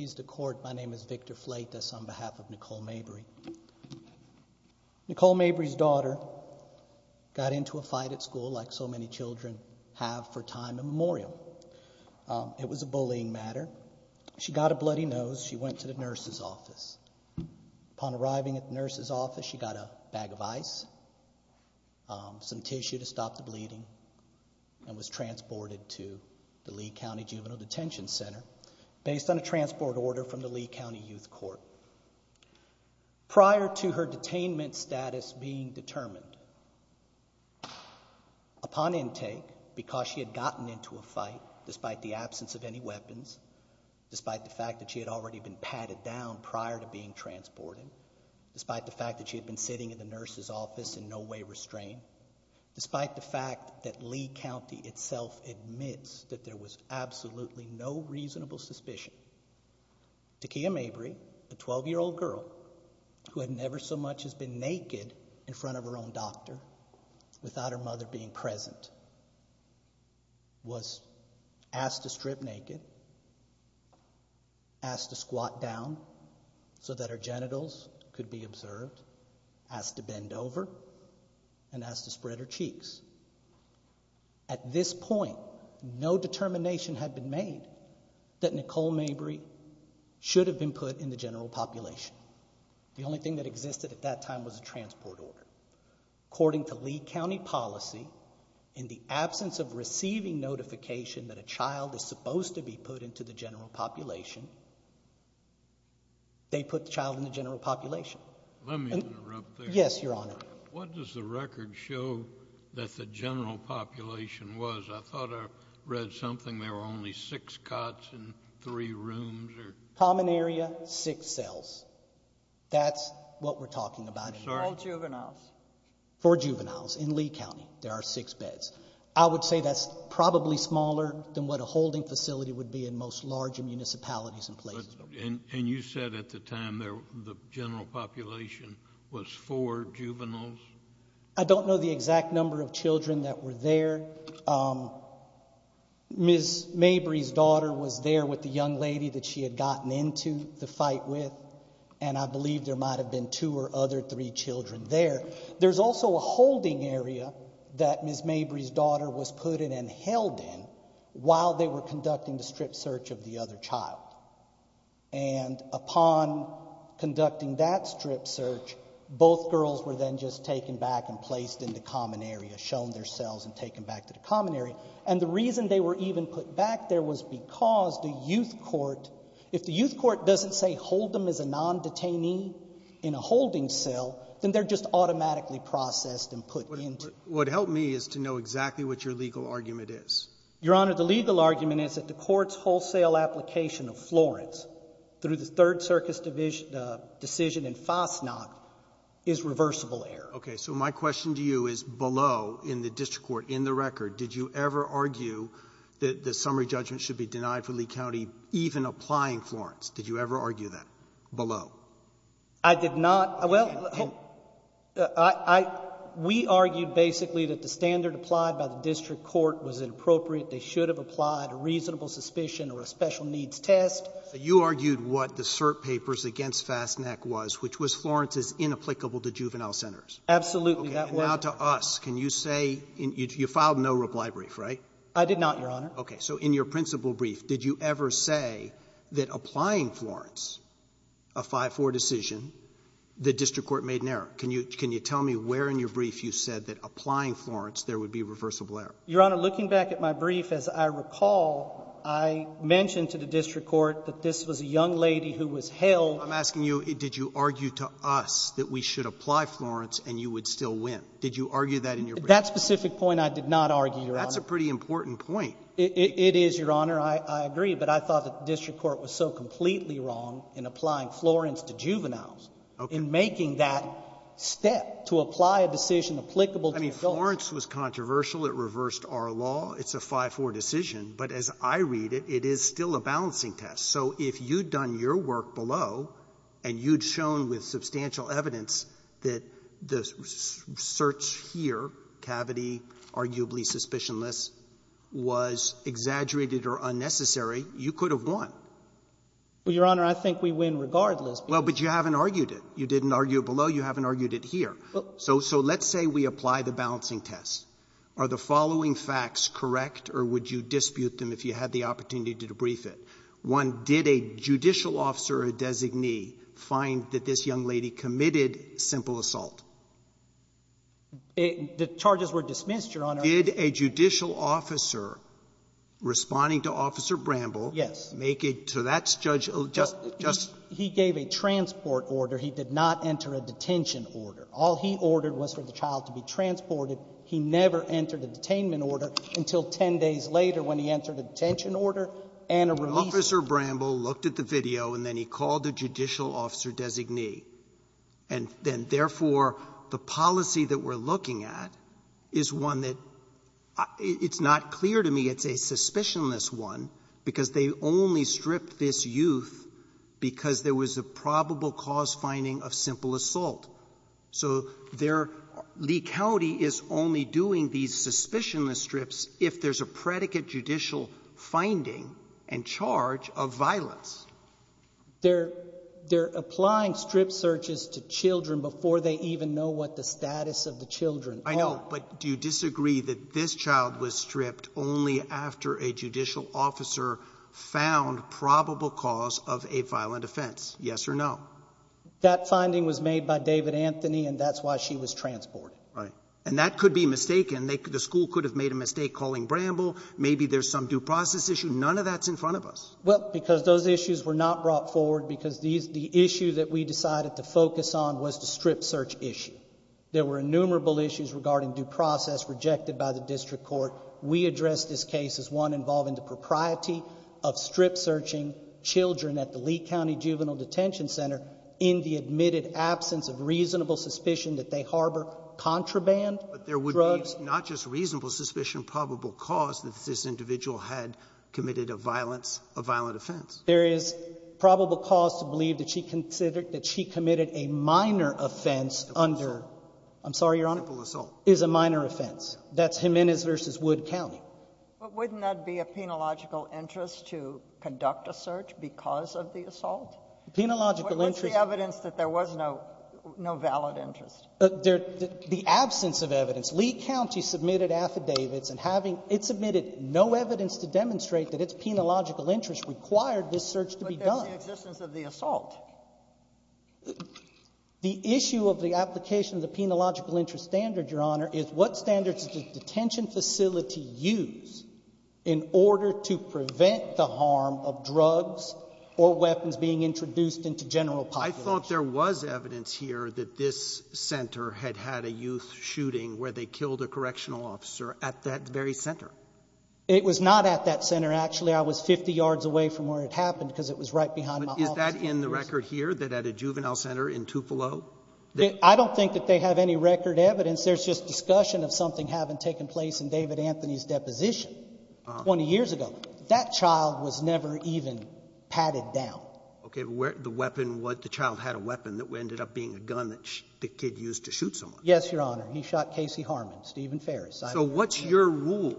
My name is Victor Fleitas on behalf of Nicole Mabry. Nicole Mabry's daughter got into a fight at school like so many children have for time immemorial. It was a bullying matter. She got a bloody nose. She went to the nurse's office. Upon arriving at the nurse's office, she got a bag of ice, some tissue to stop the bleeding, and was transported to the Lee County Juvenile Detention Center. Based on a transport order from the Lee County Youth Court. Prior to her detainment status being determined, upon intake, because she had gotten into a fight, despite the absence of any weapons, despite the fact that she had already been patted down prior to being transported, despite the fact that she had been sitting in the nurse's office in no way restrained, despite the fact that Lee County itself admits that there was absolutely no reasonable suspicion, Takiyah Mabry, a 12-year-old girl who had never so much as been naked in front of her own doctor without her mother being present, was asked to strip naked, asked to squat down so that her genitals could be observed, asked to bend over, and asked to spread her cheeks. At this point, no determination had been made that Nicole Mabry should have been put in the general population. The only thing that existed at that time was a transport order. According to Lee County policy, in the absence of receiving notification that a child is supposed to be put into the general population, they put the child in the general population. Let me interrupt there. Yes, Your Honor. What does the record show that the general population was? I thought I read something. There were only six cots in three rooms. Common area, six cells. That's what we're talking about. All juveniles. For juveniles. In Lee County, there are six beds. I would say that's probably smaller than what a holding facility would be in most larger municipalities and places. And you said at the time the general population was four juveniles? I don't know the exact number of children that were there. Ms. Mabry's daughter was there with the young lady that she had gotten into the fight with, and I believe there might have been two or other three children there. There's also a holding area that Ms. Mabry's daughter was put in and held in while they were conducting the strip search of the other child. And upon conducting that strip search, both girls were then just taken back and placed in the common area, shown their cells and taken back to the common area. And the reason they were even put back there was because the youth court, if the youth court doesn't say hold them as a non-detainee in a holding cell, then they're just automatically processed and put into. What would help me is to know exactly what your legal argument is. Your Honor, the legal argument is that the Court's wholesale application of Florence through the Third Circus decision in Fasnacht is reversible error. Okay. So my question to you is below in the district court, in the record, did you ever argue that the summary judgment should be denied for Lee County even applying Florence? Did you ever argue that below? I did not. Well, I — we argued basically that the standard applied by the district court was inappropriate, they should have applied a reasonable suspicion or a special needs test. You argued what the cert papers against Fasnacht was, which was Florence is inapplicable to juvenile centers. Absolutely. Now to us, can you say — you filed no reply brief, right? I did not, Your Honor. Okay. So in your principal brief, did you ever say that applying Florence, a 5-4 decision, the district court made an error? Can you tell me where in your brief you said that applying Florence there would be reversible error? Your Honor, looking back at my brief, as I recall, I mentioned to the district court that this was a young lady who was held. I'm asking you, did you argue to us that we should apply Florence and you would still win? Did you argue that in your brief? That specific point I did not argue, Your Honor. That's a pretty important point. It is, Your Honor. I agree, but I thought that the district court was so completely wrong in applying Florence to juveniles. Okay. In making that step to apply a decision applicable to adults. I mean, Florence was controversial. It reversed our law. It's a 5-4 decision. But as I read it, it is still a balancing test. So if you'd done your work below, and you'd shown with substantial evidence that the search here, cavity, arguably suspicionless, was exaggerated or unnecessary, you could have won. Well, Your Honor, I think we win regardless. Well, but you haven't argued it. You didn't argue it below. You haven't argued it here. So let's say we apply the balancing test. Are the following facts correct, or would you dispute them if you had the opportunity to debrief it? One, did a judicial officer or a designee find that this young lady committed simple assault? The charges were dismissed, Your Honor. Did a judicial officer responding to Officer Bramble make it to that judge? He gave a transport order. He did not enter a detention order. All he ordered was for the child to be transported. He never entered a detainment order until 10 days later when he entered a detention order and a release order. Officer Bramble looked at the video, and then he called the judicial officer designee. And then, therefore, the policy that we're looking at is one that it's not clear to me it's a suspicionless one, because they only stripped this youth because there was a probable cause finding of simple assault. So they're — Lee County is only doing these suspicionless strips if there's a predicate judicial finding and charge of violence. They're — they're applying strip searches to children before they even know what the status of the children are. I know. But do you disagree that this child was stripped only after a judicial officer found probable cause of a violent offense? Yes or no? That finding was made by David Anthony, and that's why she was transported. Right. And that could be mistaken. The school could have made a mistake calling Bramble. Maybe there's some due process issue. None of that's in front of us. Well, because those issues were not brought forward because these — the issue that we decided to focus on was the strip search issue. There were innumerable issues regarding due process rejected by the district court. We addressed this case as one involving the propriety of strip searching children at the Lee County Juvenile Detention Center in the admitted absence of reasonable suspicion that they harbor contraband drugs. But there would be not just reasonable suspicion, probable cause that this individual had committed a violence — a violent offense. There is probable cause to believe that she considered — that she committed a minor offense under — Simple assault. I'm sorry, Your Honor? Simple assault. Is a minor offense. That's Jimenez v. Wood County. But wouldn't that be a penological interest to conduct a search because of the assault? Penological interest — What's the evidence that there was no valid interest? The absence of evidence. Lee County submitted affidavits, and having — it submitted no evidence to demonstrate that its penological interest required this search to be done. But there's the existence of the assault. The issue of the application of the penological interest standard, Your Honor, is what standard does the detention facility use in order to prevent the harm of drugs or weapons being introduced into general population? I thought there was evidence here that this center had had a youth shooting where they killed a correctional officer at that very center. It was not at that center, actually. I was 50 yards away from where it happened because it was right behind my office. But is that in the record here, that at a juvenile center in Tupelo? I don't think that they have any record evidence. There's just discussion of something having taken place in David Anthony's deposition 20 years ago. That child was never even patted down. Okay. But where — the weapon — the child had a weapon that ended up being a gun that the kid used to shoot someone. Yes, Your Honor. He shot Casey Harmon, Stephen Ferris. So what's your rule?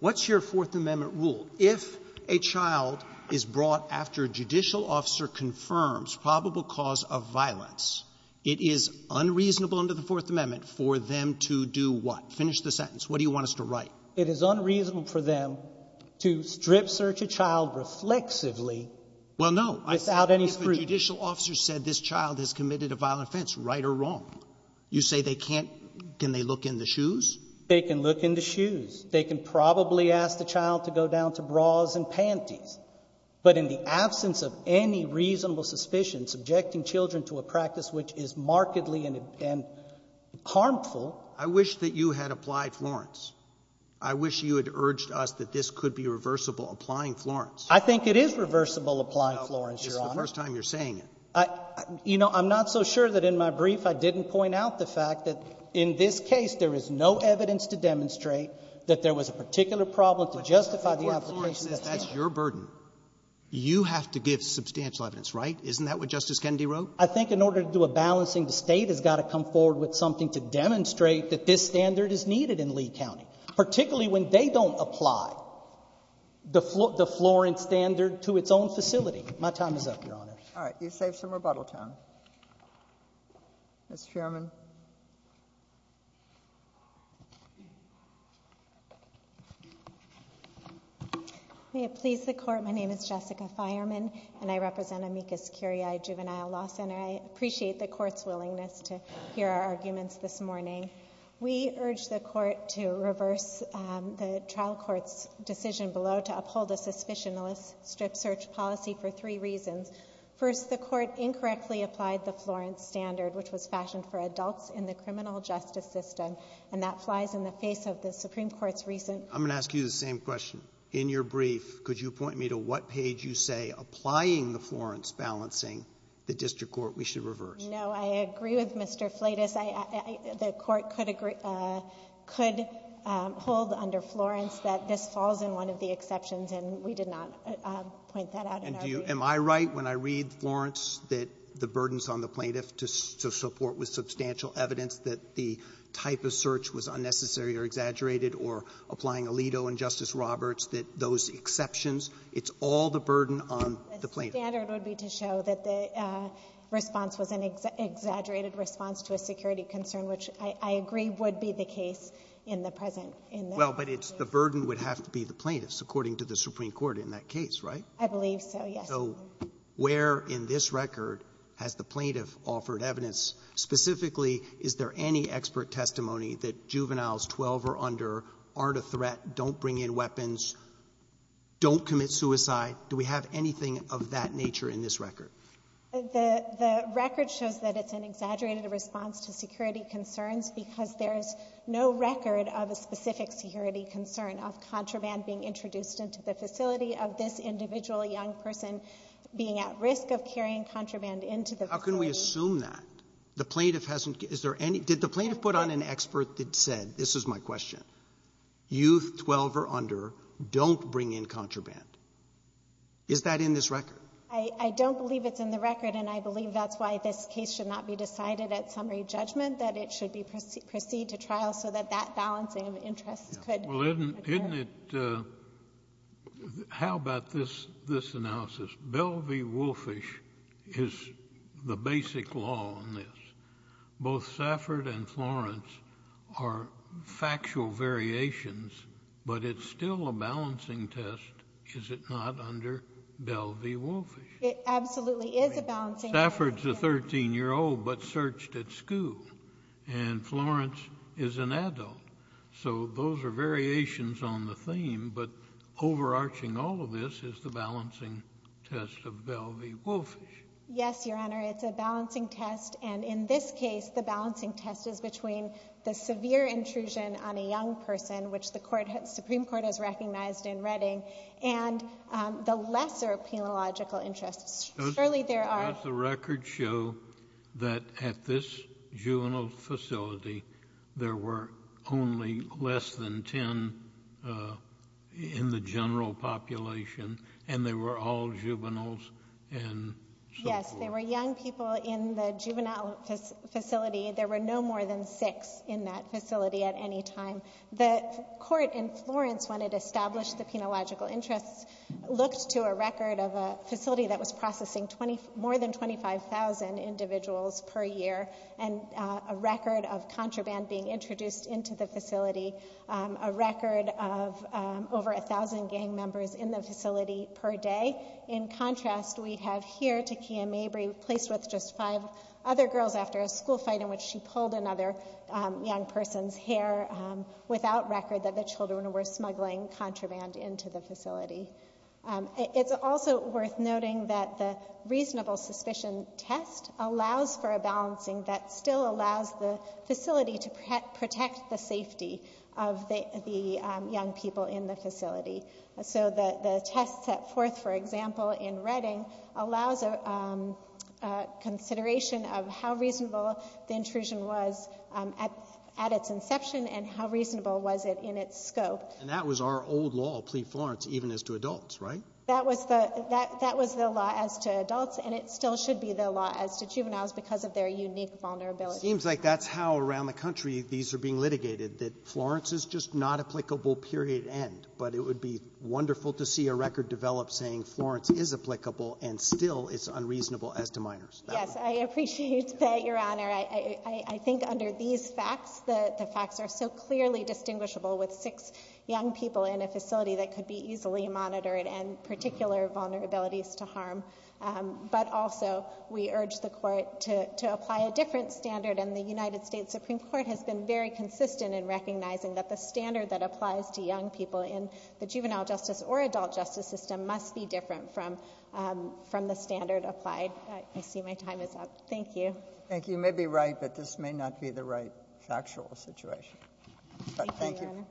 What's your Fourth Amendment rule? If a child is brought after a judicial officer confirms probable cause of violence, it is unreasonable under the Fourth Amendment for them to do what? Finish the sentence. What do you want us to write? It is unreasonable for them to strip search a child reflexively without any scrutiny. Well, no. I said if a judicial officer said this child has committed a violent offense, right or wrong. You say they can't — can they look in the shoes? They can look in the shoes. They can probably ask the child to go down to bras and panties. But in the absence of any reasonable suspicion, subjecting children to a practice which is markedly and harmful — I wish that you had applied Florence. I wish you had urged us that this could be reversible, applying Florence. I think it is reversible, applying Florence, Your Honor. No, it's the first time you're saying it. You know, I'm not so sure that in my brief I didn't point out the fact that in this case there is no evidence to demonstrate that there was a particular problem to justify the application that's there. But if Florence says that's your burden, you have to give substantial evidence, right? Isn't that what Justice Kennedy wrote? I think in order to do a balancing, the State has got to come forward with something to demonstrate that this standard is needed in Lee County, particularly when they don't apply the Florence standard to its own facility. My time is up, Your Honor. All right. You saved some rebuttal time. Ms. Sherman. May it please the Court, my name is Jessica Fireman, and I represent Amicus Curiae Juvenile Law Center. I appreciate the Court's willingness to hear our arguments this morning. We urge the Court to reverse the trial court's decision below to uphold a suspicion list strip search policy for three reasons. First, the Court incorrectly applied the Florence standard, which was fashioned for adults in the criminal justice system, and that flies in the face of the Supreme Court's recent ---- I'm going to ask you the same question. In your brief, could you point me to what page you say applying the Florence balancing, the district court, we should reverse? No. I agree with Mr. Flatus. I ---- the Court could agree ---- could hold under Florence that this falls in one of the exceptions, and we did not point that out in our brief. And do you ---- am I right when I read Florence that the burdens on the plaintiff to support with substantial evidence that the type of search was unnecessary or exaggerated or applying Alito and Justice Roberts, that those exceptions, it's all the burden on the plaintiff? The standard would be to show that the response was an exaggerated response to a security concern, which I agree would be the case in the present. Well, but it's the burden would have to be the plaintiffs, according to the Supreme Court in that case, right? I believe so, yes. So where in this record has the plaintiff offered evidence? Specifically, is there any expert testimony that juveniles 12 or under aren't a threat, don't bring in weapons, don't commit suicide? Do we have anything of that nature in this record? The record shows that it's an exaggerated response to security concerns because there is no record of a specific security concern of contraband being introduced into the facility, of this individual young person being at risk of carrying contraband into the facility. How can we assume that? The plaintiff hasn't. Is there any? Did the plaintiff put on an expert that said, this is my question, youth 12 or under don't bring in contraband? Is that in this record? I don't believe it's in the record, and I believe that's why this case should not be decided at summary judgment, that it should proceed to trial so that that balancing of interests could occur. Well, isn't it, how about this analysis? Belle v. Wolffish is the basic law on this. Both Safford and Florence are factual variations, but it's still a balancing test, is it not, under Belle v. Wolffish? It absolutely is a balancing test. Safford's a 13-year-old but searched at school, and Florence is an adult. So those are variations on the theme, but overarching all of this is the balancing test of Belle v. Wolffish. Yes, Your Honor. It's a balancing test, and in this case, the balancing test is between the severe intrusion on a young person, which the Supreme Court has recognized in Redding, and the lesser penological interests. Surely there are. Does the record show that at this juvenile facility, there were only less than ten in the general population, and they were all juveniles and so forth? Yes, there were young people in the juvenile facility. There were no more than six in that facility at any time. The court in Florence, when it established the penological interests, looked to a record of a facility that was processing more than 25,000 individuals per year and a record of contraband being introduced into the facility, a record of over 1,000 gang members in the facility per day. In contrast, we have here, Takiyah Mabry, placed with just five other girls after a school fight in which she pulled another young person's hair, without record that the children were smuggling contraband into the facility. It's also worth noting that the reasonable suspicion test allows for a balancing that still allows the facility to protect the safety of the young people in the facility. So the test set forth, for example, in Redding, allows consideration of how reasonable the intrusion was at its inception and how reasonable was it in its scope. And that was our old law, Plead Florence, even as to adults, right? That was the law as to adults, and it still should be the law as to juveniles because of their unique vulnerability. It seems like that's how, around the country, these are being litigated, that Florence is just not applicable, period, end. But it would be wonderful to see a record develop saying Florence is applicable and still is unreasonable as to minors. Yes, I appreciate that, Your Honor. I think under these facts, the facts are so clearly distinguishable with six young people in a facility that could be easily monitored and particular vulnerabilities to harm. But also, we urge the Court to apply a different standard, and the United States Supreme Court has been very consistent in recognizing that the standard that applies to young people in the juvenile justice or adult justice system must be different from the standard applied. I see my time is up. Thank you. Thank you. You may be right, but this may not be the right factual situation. Thank you, Your Honor.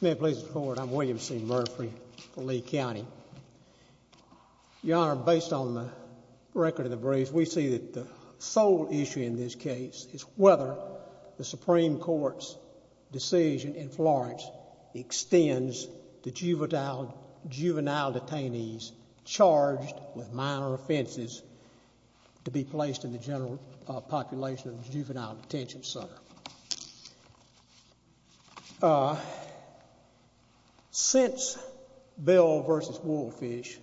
May it please the Court, I'm William C. Murphy for Lee County. Your Honor, based on the record of the brief, we see that the sole issue in this case is whether the Supreme Court's decision in Florence extends to juvenile detainees charged with minor offenses to be placed in the general population of the juvenile detention center. Since Bell v. Woolfish,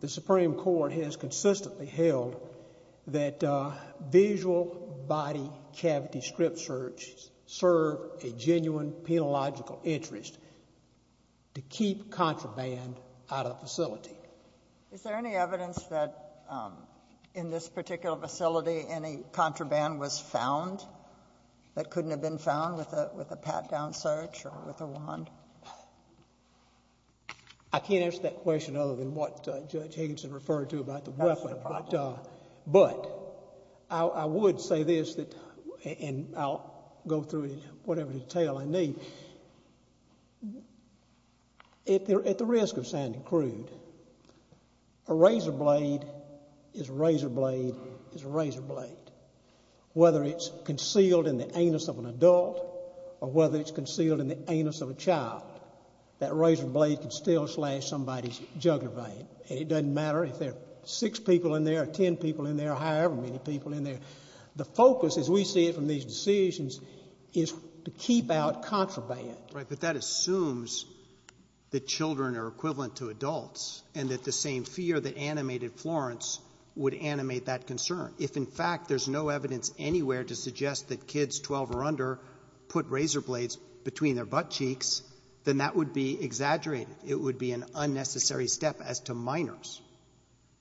the Supreme Court has consistently held that visual body cavity strip searches serve a genuine penological interest to keep contraband out of the facility. Is there any evidence that in this particular facility any contraband was found? That couldn't have been found with a pat-down search or with a wand? I can't answer that question other than what Judge Higginson referred to about the weapon. But I would say this, and I'll go through it in whatever detail I need. At the risk of sounding crude, a razor blade is a razor blade is a razor blade, whether it's concealed in the anus of an adult or whether it's concealed in the anus of a child. That razor blade can still slash somebody's jugular vein, and it doesn't matter if there are six people in there or ten people in there or however many people in there. The focus, as we see it from these decisions, is to keep out contraband. Right, but that assumes that children are equivalent to adults and that the same fear that animated Florence would animate that concern. If, in fact, there's no evidence anywhere to suggest that kids 12 or under put razor blades between their butt cheeks, then that would be exaggerated. It would be an unnecessary step as to minors.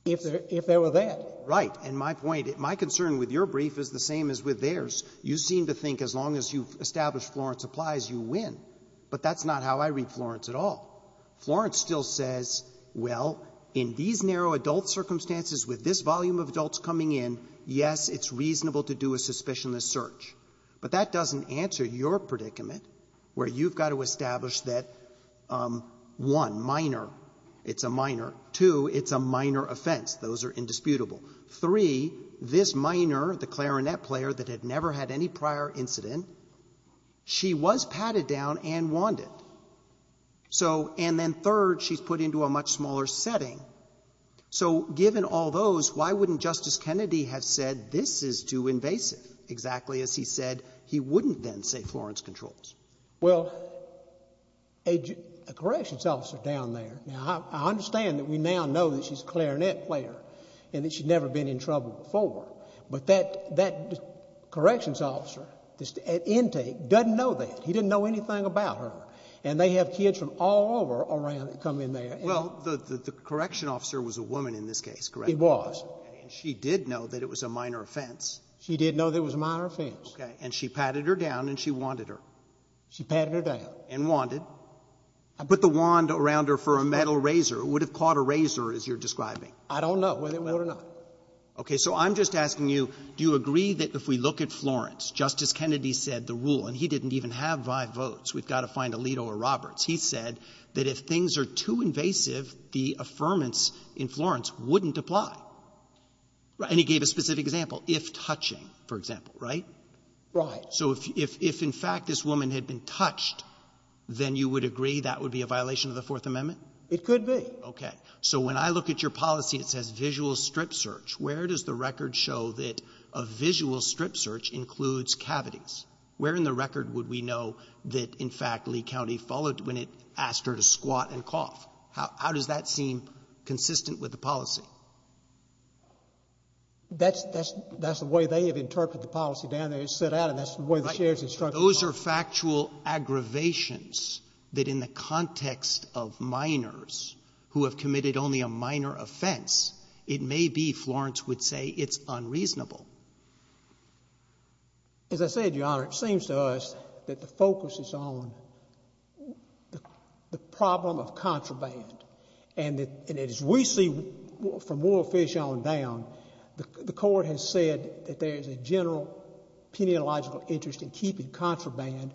If there were that. Right. And my point, my concern with your brief is the same as with theirs. You seem to think as long as you've established Florence applies, you win. But that's not how I read Florence at all. Florence still says, well, in these narrow adult circumstances with this volume of adults coming in, yes, it's reasonable to do a suspicionless search. But that doesn't answer your predicament where you've got to establish that, one, minor, it's a minor. Two, it's a minor offense. Those are indisputable. Three, this minor, the clarinet player that had never had any prior incident, she was patted down and wanded. And then third, she's put into a much smaller setting. So given all those, why wouldn't Justice Kennedy have said this is too invasive, exactly as he said he wouldn't then say Florence controls? Well, a corrections officer down there, now I understand that we now know that she's a clarinet player and that she's never been in trouble before. But that corrections officer at intake doesn't know that. He didn't know anything about her. And they have kids from all over around that come in there. Well, the correction officer was a woman in this case, correct? He was. And she did know that it was a minor offense. She did know that it was a minor offense. Okay. And she patted her down and she wanded her. She patted her down. And wanded. I put the wand around her for a metal razor. It would have caught a razor, as you're describing. I don't know whether it would or not. Okay. So I'm just asking you, do you agree that if we look at Florence, Justice Kennedy said the rule, and he didn't even have five votes, we've got to find Alito or Roberts, he said that if things are too invasive, the affirmance in Florence wouldn't apply. And he gave a specific example, if touching, for example, right? Right. So if in fact this woman had been touched, then you would agree that would be a violation of the Fourth Amendment? It could be. Okay. So when I look at your policy, it says visual strip search. Where does the record show that a visual strip search includes cavities? Where in the record would we know that, in fact, Lee County followed when it asked her to squat and cough? How does that seem consistent with the policy? That's the way they have interpreted the policy down there. It's set out, and that's the way the sheriff's instructions are. Those are factual aggravations that in the context of minors who have committed only a minor offense, it may be Florence would say it's unreasonable. As I said, Your Honor, it seems to us that the focus is on the problem of contraband. And as we see from Warfish on down, the Court has said that there is a general peniological interest in keeping contraband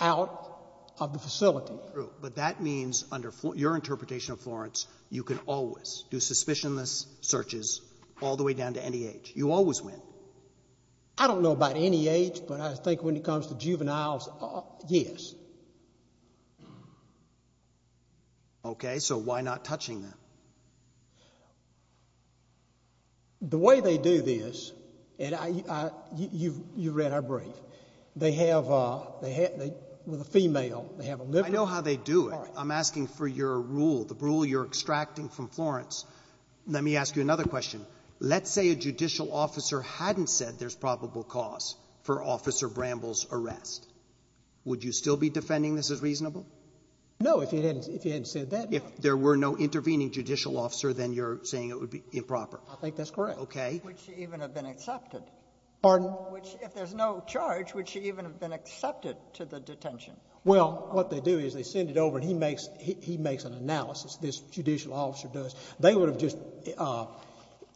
out of the facility. True. But that means under your interpretation of Florence, you can always do suspicionless searches all the way down to any age. You always win. I don't know about any age, but I think when it comes to juveniles, yes. Okay. So why not touching them? The way they do this, and you've read our brief, they have a female. I know how they do it. I'm asking for your rule, the rule you're extracting from Florence. Let me ask you another question. Let's say a judicial officer hadn't said there's probable cause for Officer Bramble's arrest. Would you still be defending this as reasonable? No, if he hadn't said that. If there were no intervening judicial officer, then you're saying it would be improper. I think that's correct. Okay. Would she even have been accepted? Pardon? If there's no charge, would she even have been accepted to the detention? Well, what they do is they send it over and he makes an analysis, this judicial officer does. They would have just,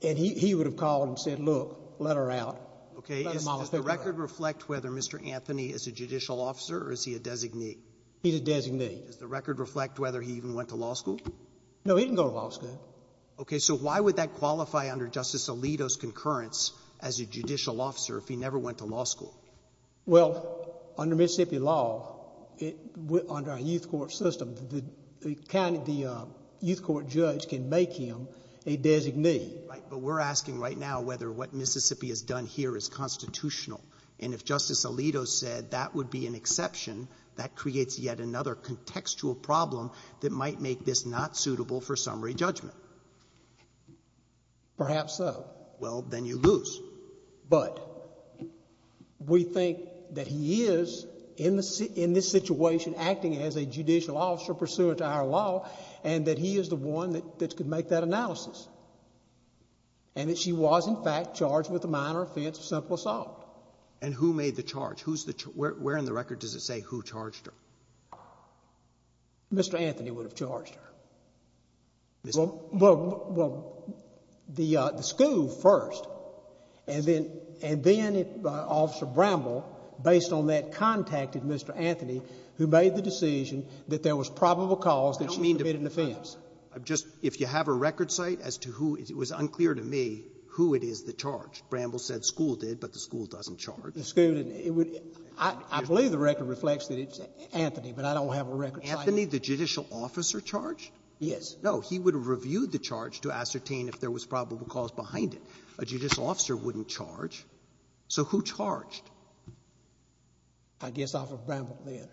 and he would have called and said, look, let her out. Okay. Does the record reflect whether Mr. Anthony is a judicial officer or is he a designee? He's a designee. Does the record reflect whether he even went to law school? No, he didn't go to law school. Okay. So why would that qualify under Justice Alito's concurrence as a judicial officer if he never went to law school? Well, under Mississippi law, under our youth court system, the youth court judge can make him a designee. Right. But we're asking right now whether what Mississippi has done here is constitutional. And if Justice Alito said that would be an exception, that creates yet another contextual problem that might make this not suitable for summary judgment. Perhaps so. Well, then you lose. But we think that he is, in this situation, acting as a judicial officer pursuant to our law, and that he is the one that could make that analysis. And that she was, in fact, charged with a minor offense of simple assault. And who made the charge? Where in the record does it say who charged her? Mr. Anthony would have charged her. Well, the school first, and then Officer Bramble, based on that, contacted Mr. Anthony. I guess off of Bramble then.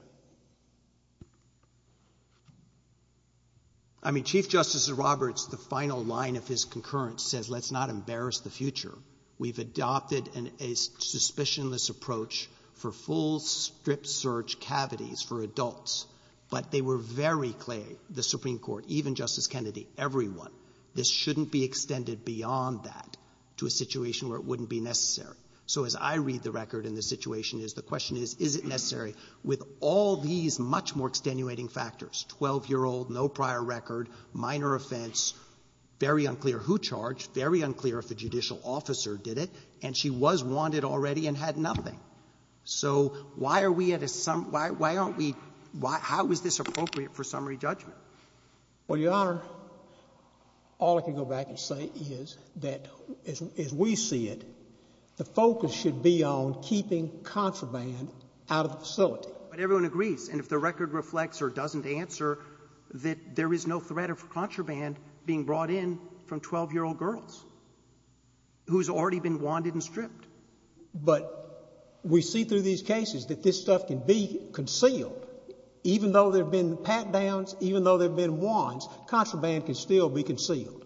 I mean, Chief Justice Roberts, the final line of his concurrence says, let's not embarrass the future. We've adopted a suspicionless approach for full strip search cavities for adults. But they were very clear, the Supreme Court, even Justice Kennedy, everyone, this shouldn't be extended beyond that to a situation where it wouldn't be necessary. So as I read the record and the situation is, the question is, is it necessary with all these much more extenuating factors? Twelve-year-old, no prior record, minor offense, very unclear who charged, very unclear if the judicial officer did it, and she was wanted already and had nothing. So why are we at a – why aren't we – how is this appropriate for summary judgment? Well, Your Honor, all I can go back and say is that, as we see it, the focus should be on keeping contraband out of the facility. But everyone agrees, and if the record reflects or doesn't answer, that there is no threat of contraband being brought in from 12-year-old girls who's already been wanted and stripped. But we see through these cases that this stuff can be concealed. Even though there have been pat-downs, even though there have been wands, contraband can still be concealed.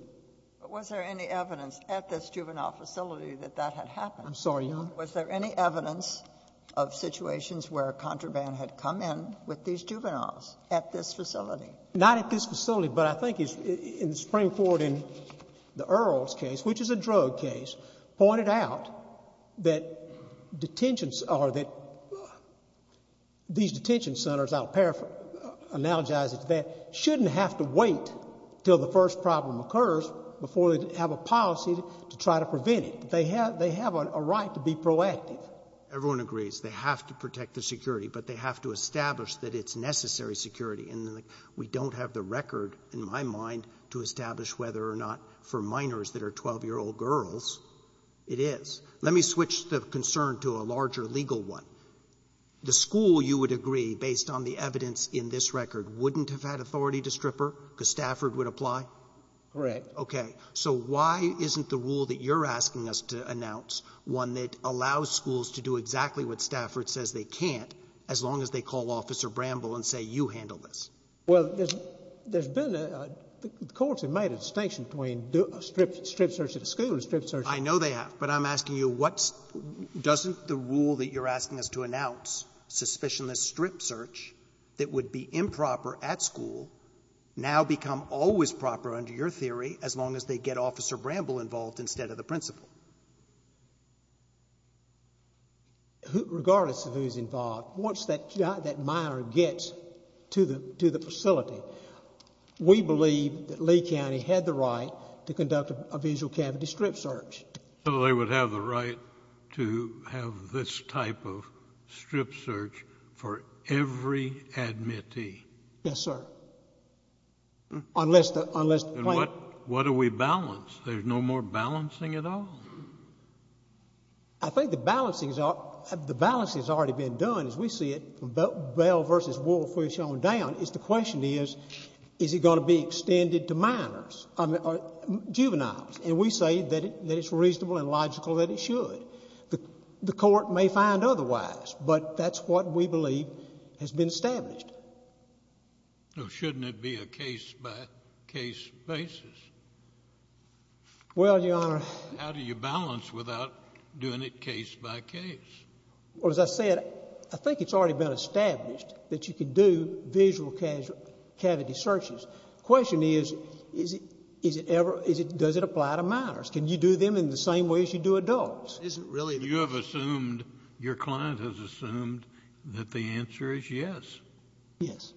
But was there any evidence at this juvenile facility that that had happened? I'm sorry, Your Honor? Was there any evidence of situations where contraband had come in with these juveniles at this facility? Not at this facility, but I think in the Supreme Court in the Earls case, which is a drug case, pointed out that detentions or that these detention centers, I'll paraphrase, analogize it to that, shouldn't have to wait until the first problem occurs before they have a policy to try to prevent it. They have a right to be proactive. Everyone agrees they have to protect the security, but they have to establish that it's necessary security. And we don't have the record in my mind to establish whether or not for minors that are 12-year-old girls it is. Let me switch the concern to a larger legal one. The school, you would agree, based on the evidence in this record, wouldn't have had authority to strip her because Stafford would apply? Correct. Okay. So why isn't the rule that you're asking us to announce, one that allows schools to do exactly what Stafford says they can't, as long as they call Officer Bramble and say, you handle this? Well, there's been a — the courts have made a distinction between a strip search at a school and a strip search at a school. I know they have. But I'm asking you, doesn't the rule that you're asking us to announce, suspicionless strip search, that would be improper at school, now become always proper under your theory as long as they get Officer Bramble involved instead of the principal? Regardless of who's involved, once that minor gets to the facility, we believe that Lee County had the right to conduct a visual cavity strip search. So they would have the right to have this type of strip search for every admittee? Yes, sir. Unless the plaintiff — And what do we balance? There's no more balancing at all? I think the balancing has already been done, as we see it, Bell v. Woolf, we've shown down, is the question is, is it going to be extended to minors, juveniles? And we say that it's reasonable and logical that it should. The court may find otherwise, but that's what we believe has been established. Shouldn't it be a case-by-case basis? Well, Your Honor — How do you balance without doing it case-by-case? Well, as I said, I think it's already been established that you can do visual cavity searches. The question is, does it apply to minors? Can you do them in the same way as you do adults? You have assumed, your client has assumed that the answer is yes. Yes.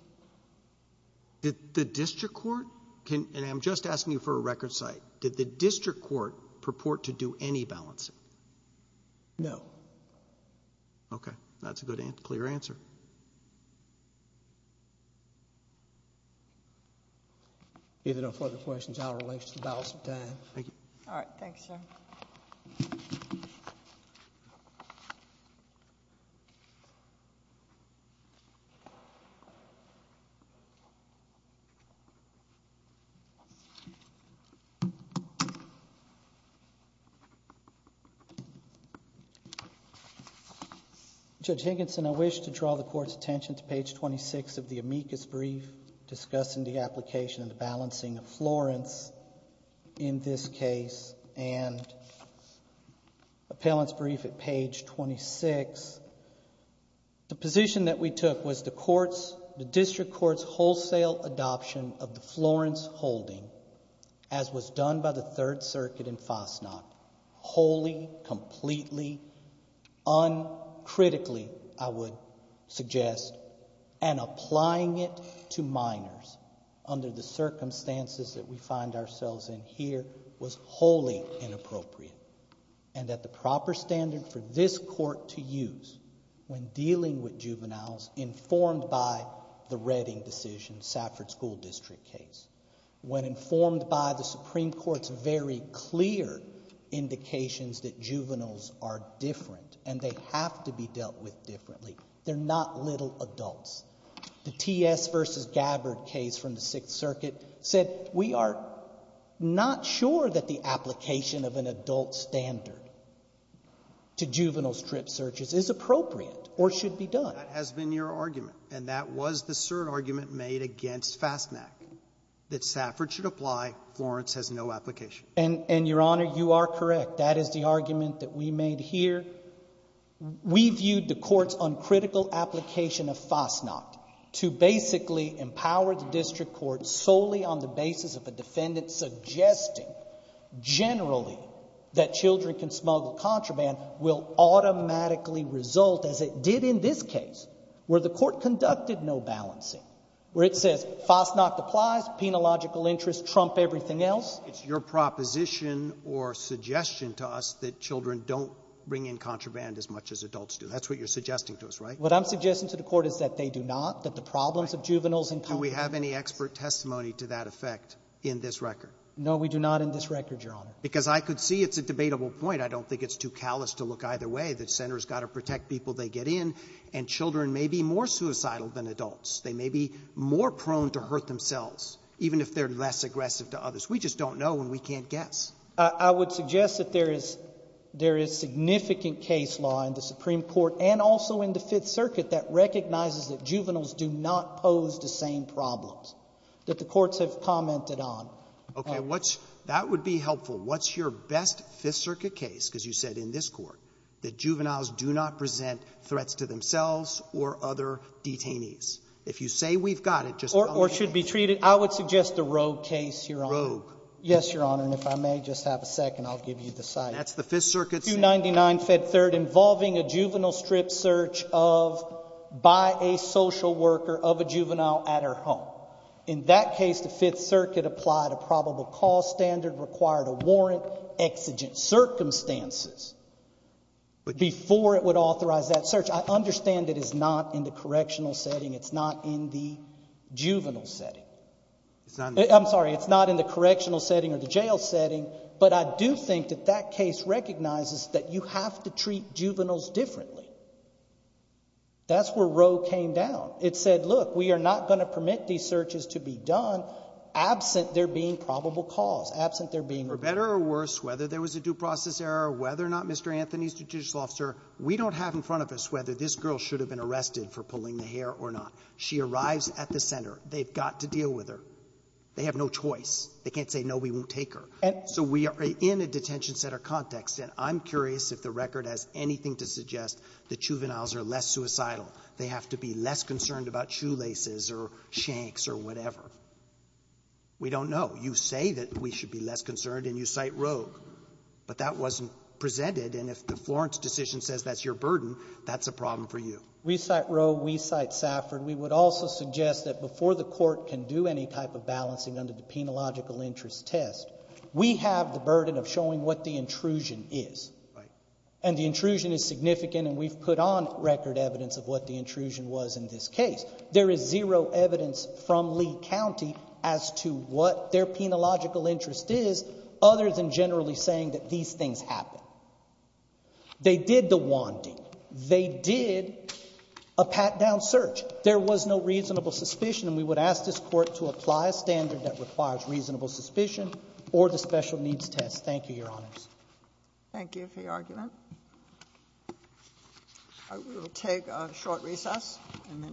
Did the district court, and I'm just asking you for a record site, did the district court purport to do any balancing? No. Okay. That's a good, clear answer. If there are no further questions, I'll release the balance of time. Thank you. All right. Thanks, sir. Judge Higginson, I wish to draw the court's attention to page 26 of the amicus brief discussing the application and the balancing of Florence in this case and appellant's brief at page 26. The position that we took was the district court's wholesale adoption of the Florence holding, as was done by the Third Circuit in Fasnacht, wholly, completely, uncritically, I would suggest, and applying it to minors under the circumstances that we find ourselves in here was wholly inappropriate, and that the proper standard for this court to use when dealing with juveniles informed by the Redding decision, Safford School District case, when informed by the Supreme Court's very clear indications that juveniles are different and they have to be dealt with differently. They're not little adults. The T.S. v. Gabbard case from the Sixth Circuit said, we are not sure that the application of an adult standard to juvenile strip searches is appropriate or should be done. That has been your argument, and that was the cert argument made against Fasnacht, that Safford should apply, Florence has no application. And, Your Honor, you are correct. That is the argument that we made here. We viewed the court's uncritical application of Fasnacht to basically empower the district court solely on the basis of a defendant suggesting generally that children can smuggle contraband will automatically result, as it did in this case, where the court conducted no balancing, where it says Fasnacht applies, penalogical interests trump everything else. It's your proposition or suggestion to us that children don't bring in contraband as much as adults do. That's what you're suggesting to us, right? What I'm suggesting to the court is that they do not, that the problems of juveniles and contraband. Do we have any expert testimony to that effect in this record? No, we do not in this record, Your Honor. Because I could see it's a debatable point. I don't think it's too callous to look either way, that the center has got to protect people they get in, and children may be more suicidal than adults. They may be more prone to hurt themselves, even if they're less aggressive to others. We just don't know and we can't guess. I would suggest that there is significant case law in the Supreme Court and also in the Fifth Circuit that recognizes that juveniles do not pose the same problems that the courts have commented on. Okay. That would be helpful. What's your best Fifth Circuit case? Because you said in this court that juveniles do not present threats to themselves or other detainees. If you say we've got it, just tell me. Or should be treated. I would suggest a rogue case, Your Honor. Rogue. Yes, Your Honor. And if I may, just have a second. I'll give you the cite. That's the Fifth Circuit's. 299-Fed 3rd, involving a juvenile strip search of, by a social worker of a juvenile at her home. In that case, the Fifth Circuit applied a probable cause standard, required a warrant, exigent circumstances before it would authorize that search. I understand it is not in the correctional setting. It's not in the juvenile setting. I'm sorry. It's not in the correctional setting or the jail setting, but I do think that that case recognizes that you have to treat juveniles differently. That's where rogue came down. It said, look, we are not going to permit these searches to be done absent there being probable cause, absent there being ---- For better or worse, whether there was a due process error, whether or not Mr. Anthony is a judicial officer, we don't have in front of us whether this girl should have been arrested for pulling the hair or not. She arrives at the center. They've got to deal with her. They have no choice. They can't say, no, we won't take her. So we are in a detention center context, and I'm curious if the record has anything to suggest that juveniles are less suicidal. They have to be less concerned about shoelaces or shanks or whatever. We don't know. You say that we should be less concerned, and you cite rogue. But that wasn't presented, and if the Florence decision says that's your burden, that's a problem for you. We cite rogue. We cite Safford. We would also suggest that before the Court can do any type of balancing under the Penal Logical Interest Test, we have the burden of showing what the intrusion is. Right. And the intrusion is significant, and we've put on record evidence of what the intrusion was in this case. There is zero evidence from Lee County as to what their Penal Logical Interest is, other than generally saying that these things happen. They did the WANDI. They did a pat-down search. There was no reasonable suspicion, and we would ask this Court to apply a standard that requires reasonable suspicion or the special needs test. Thank you, Your Honors. We will take a short recess and then take questions.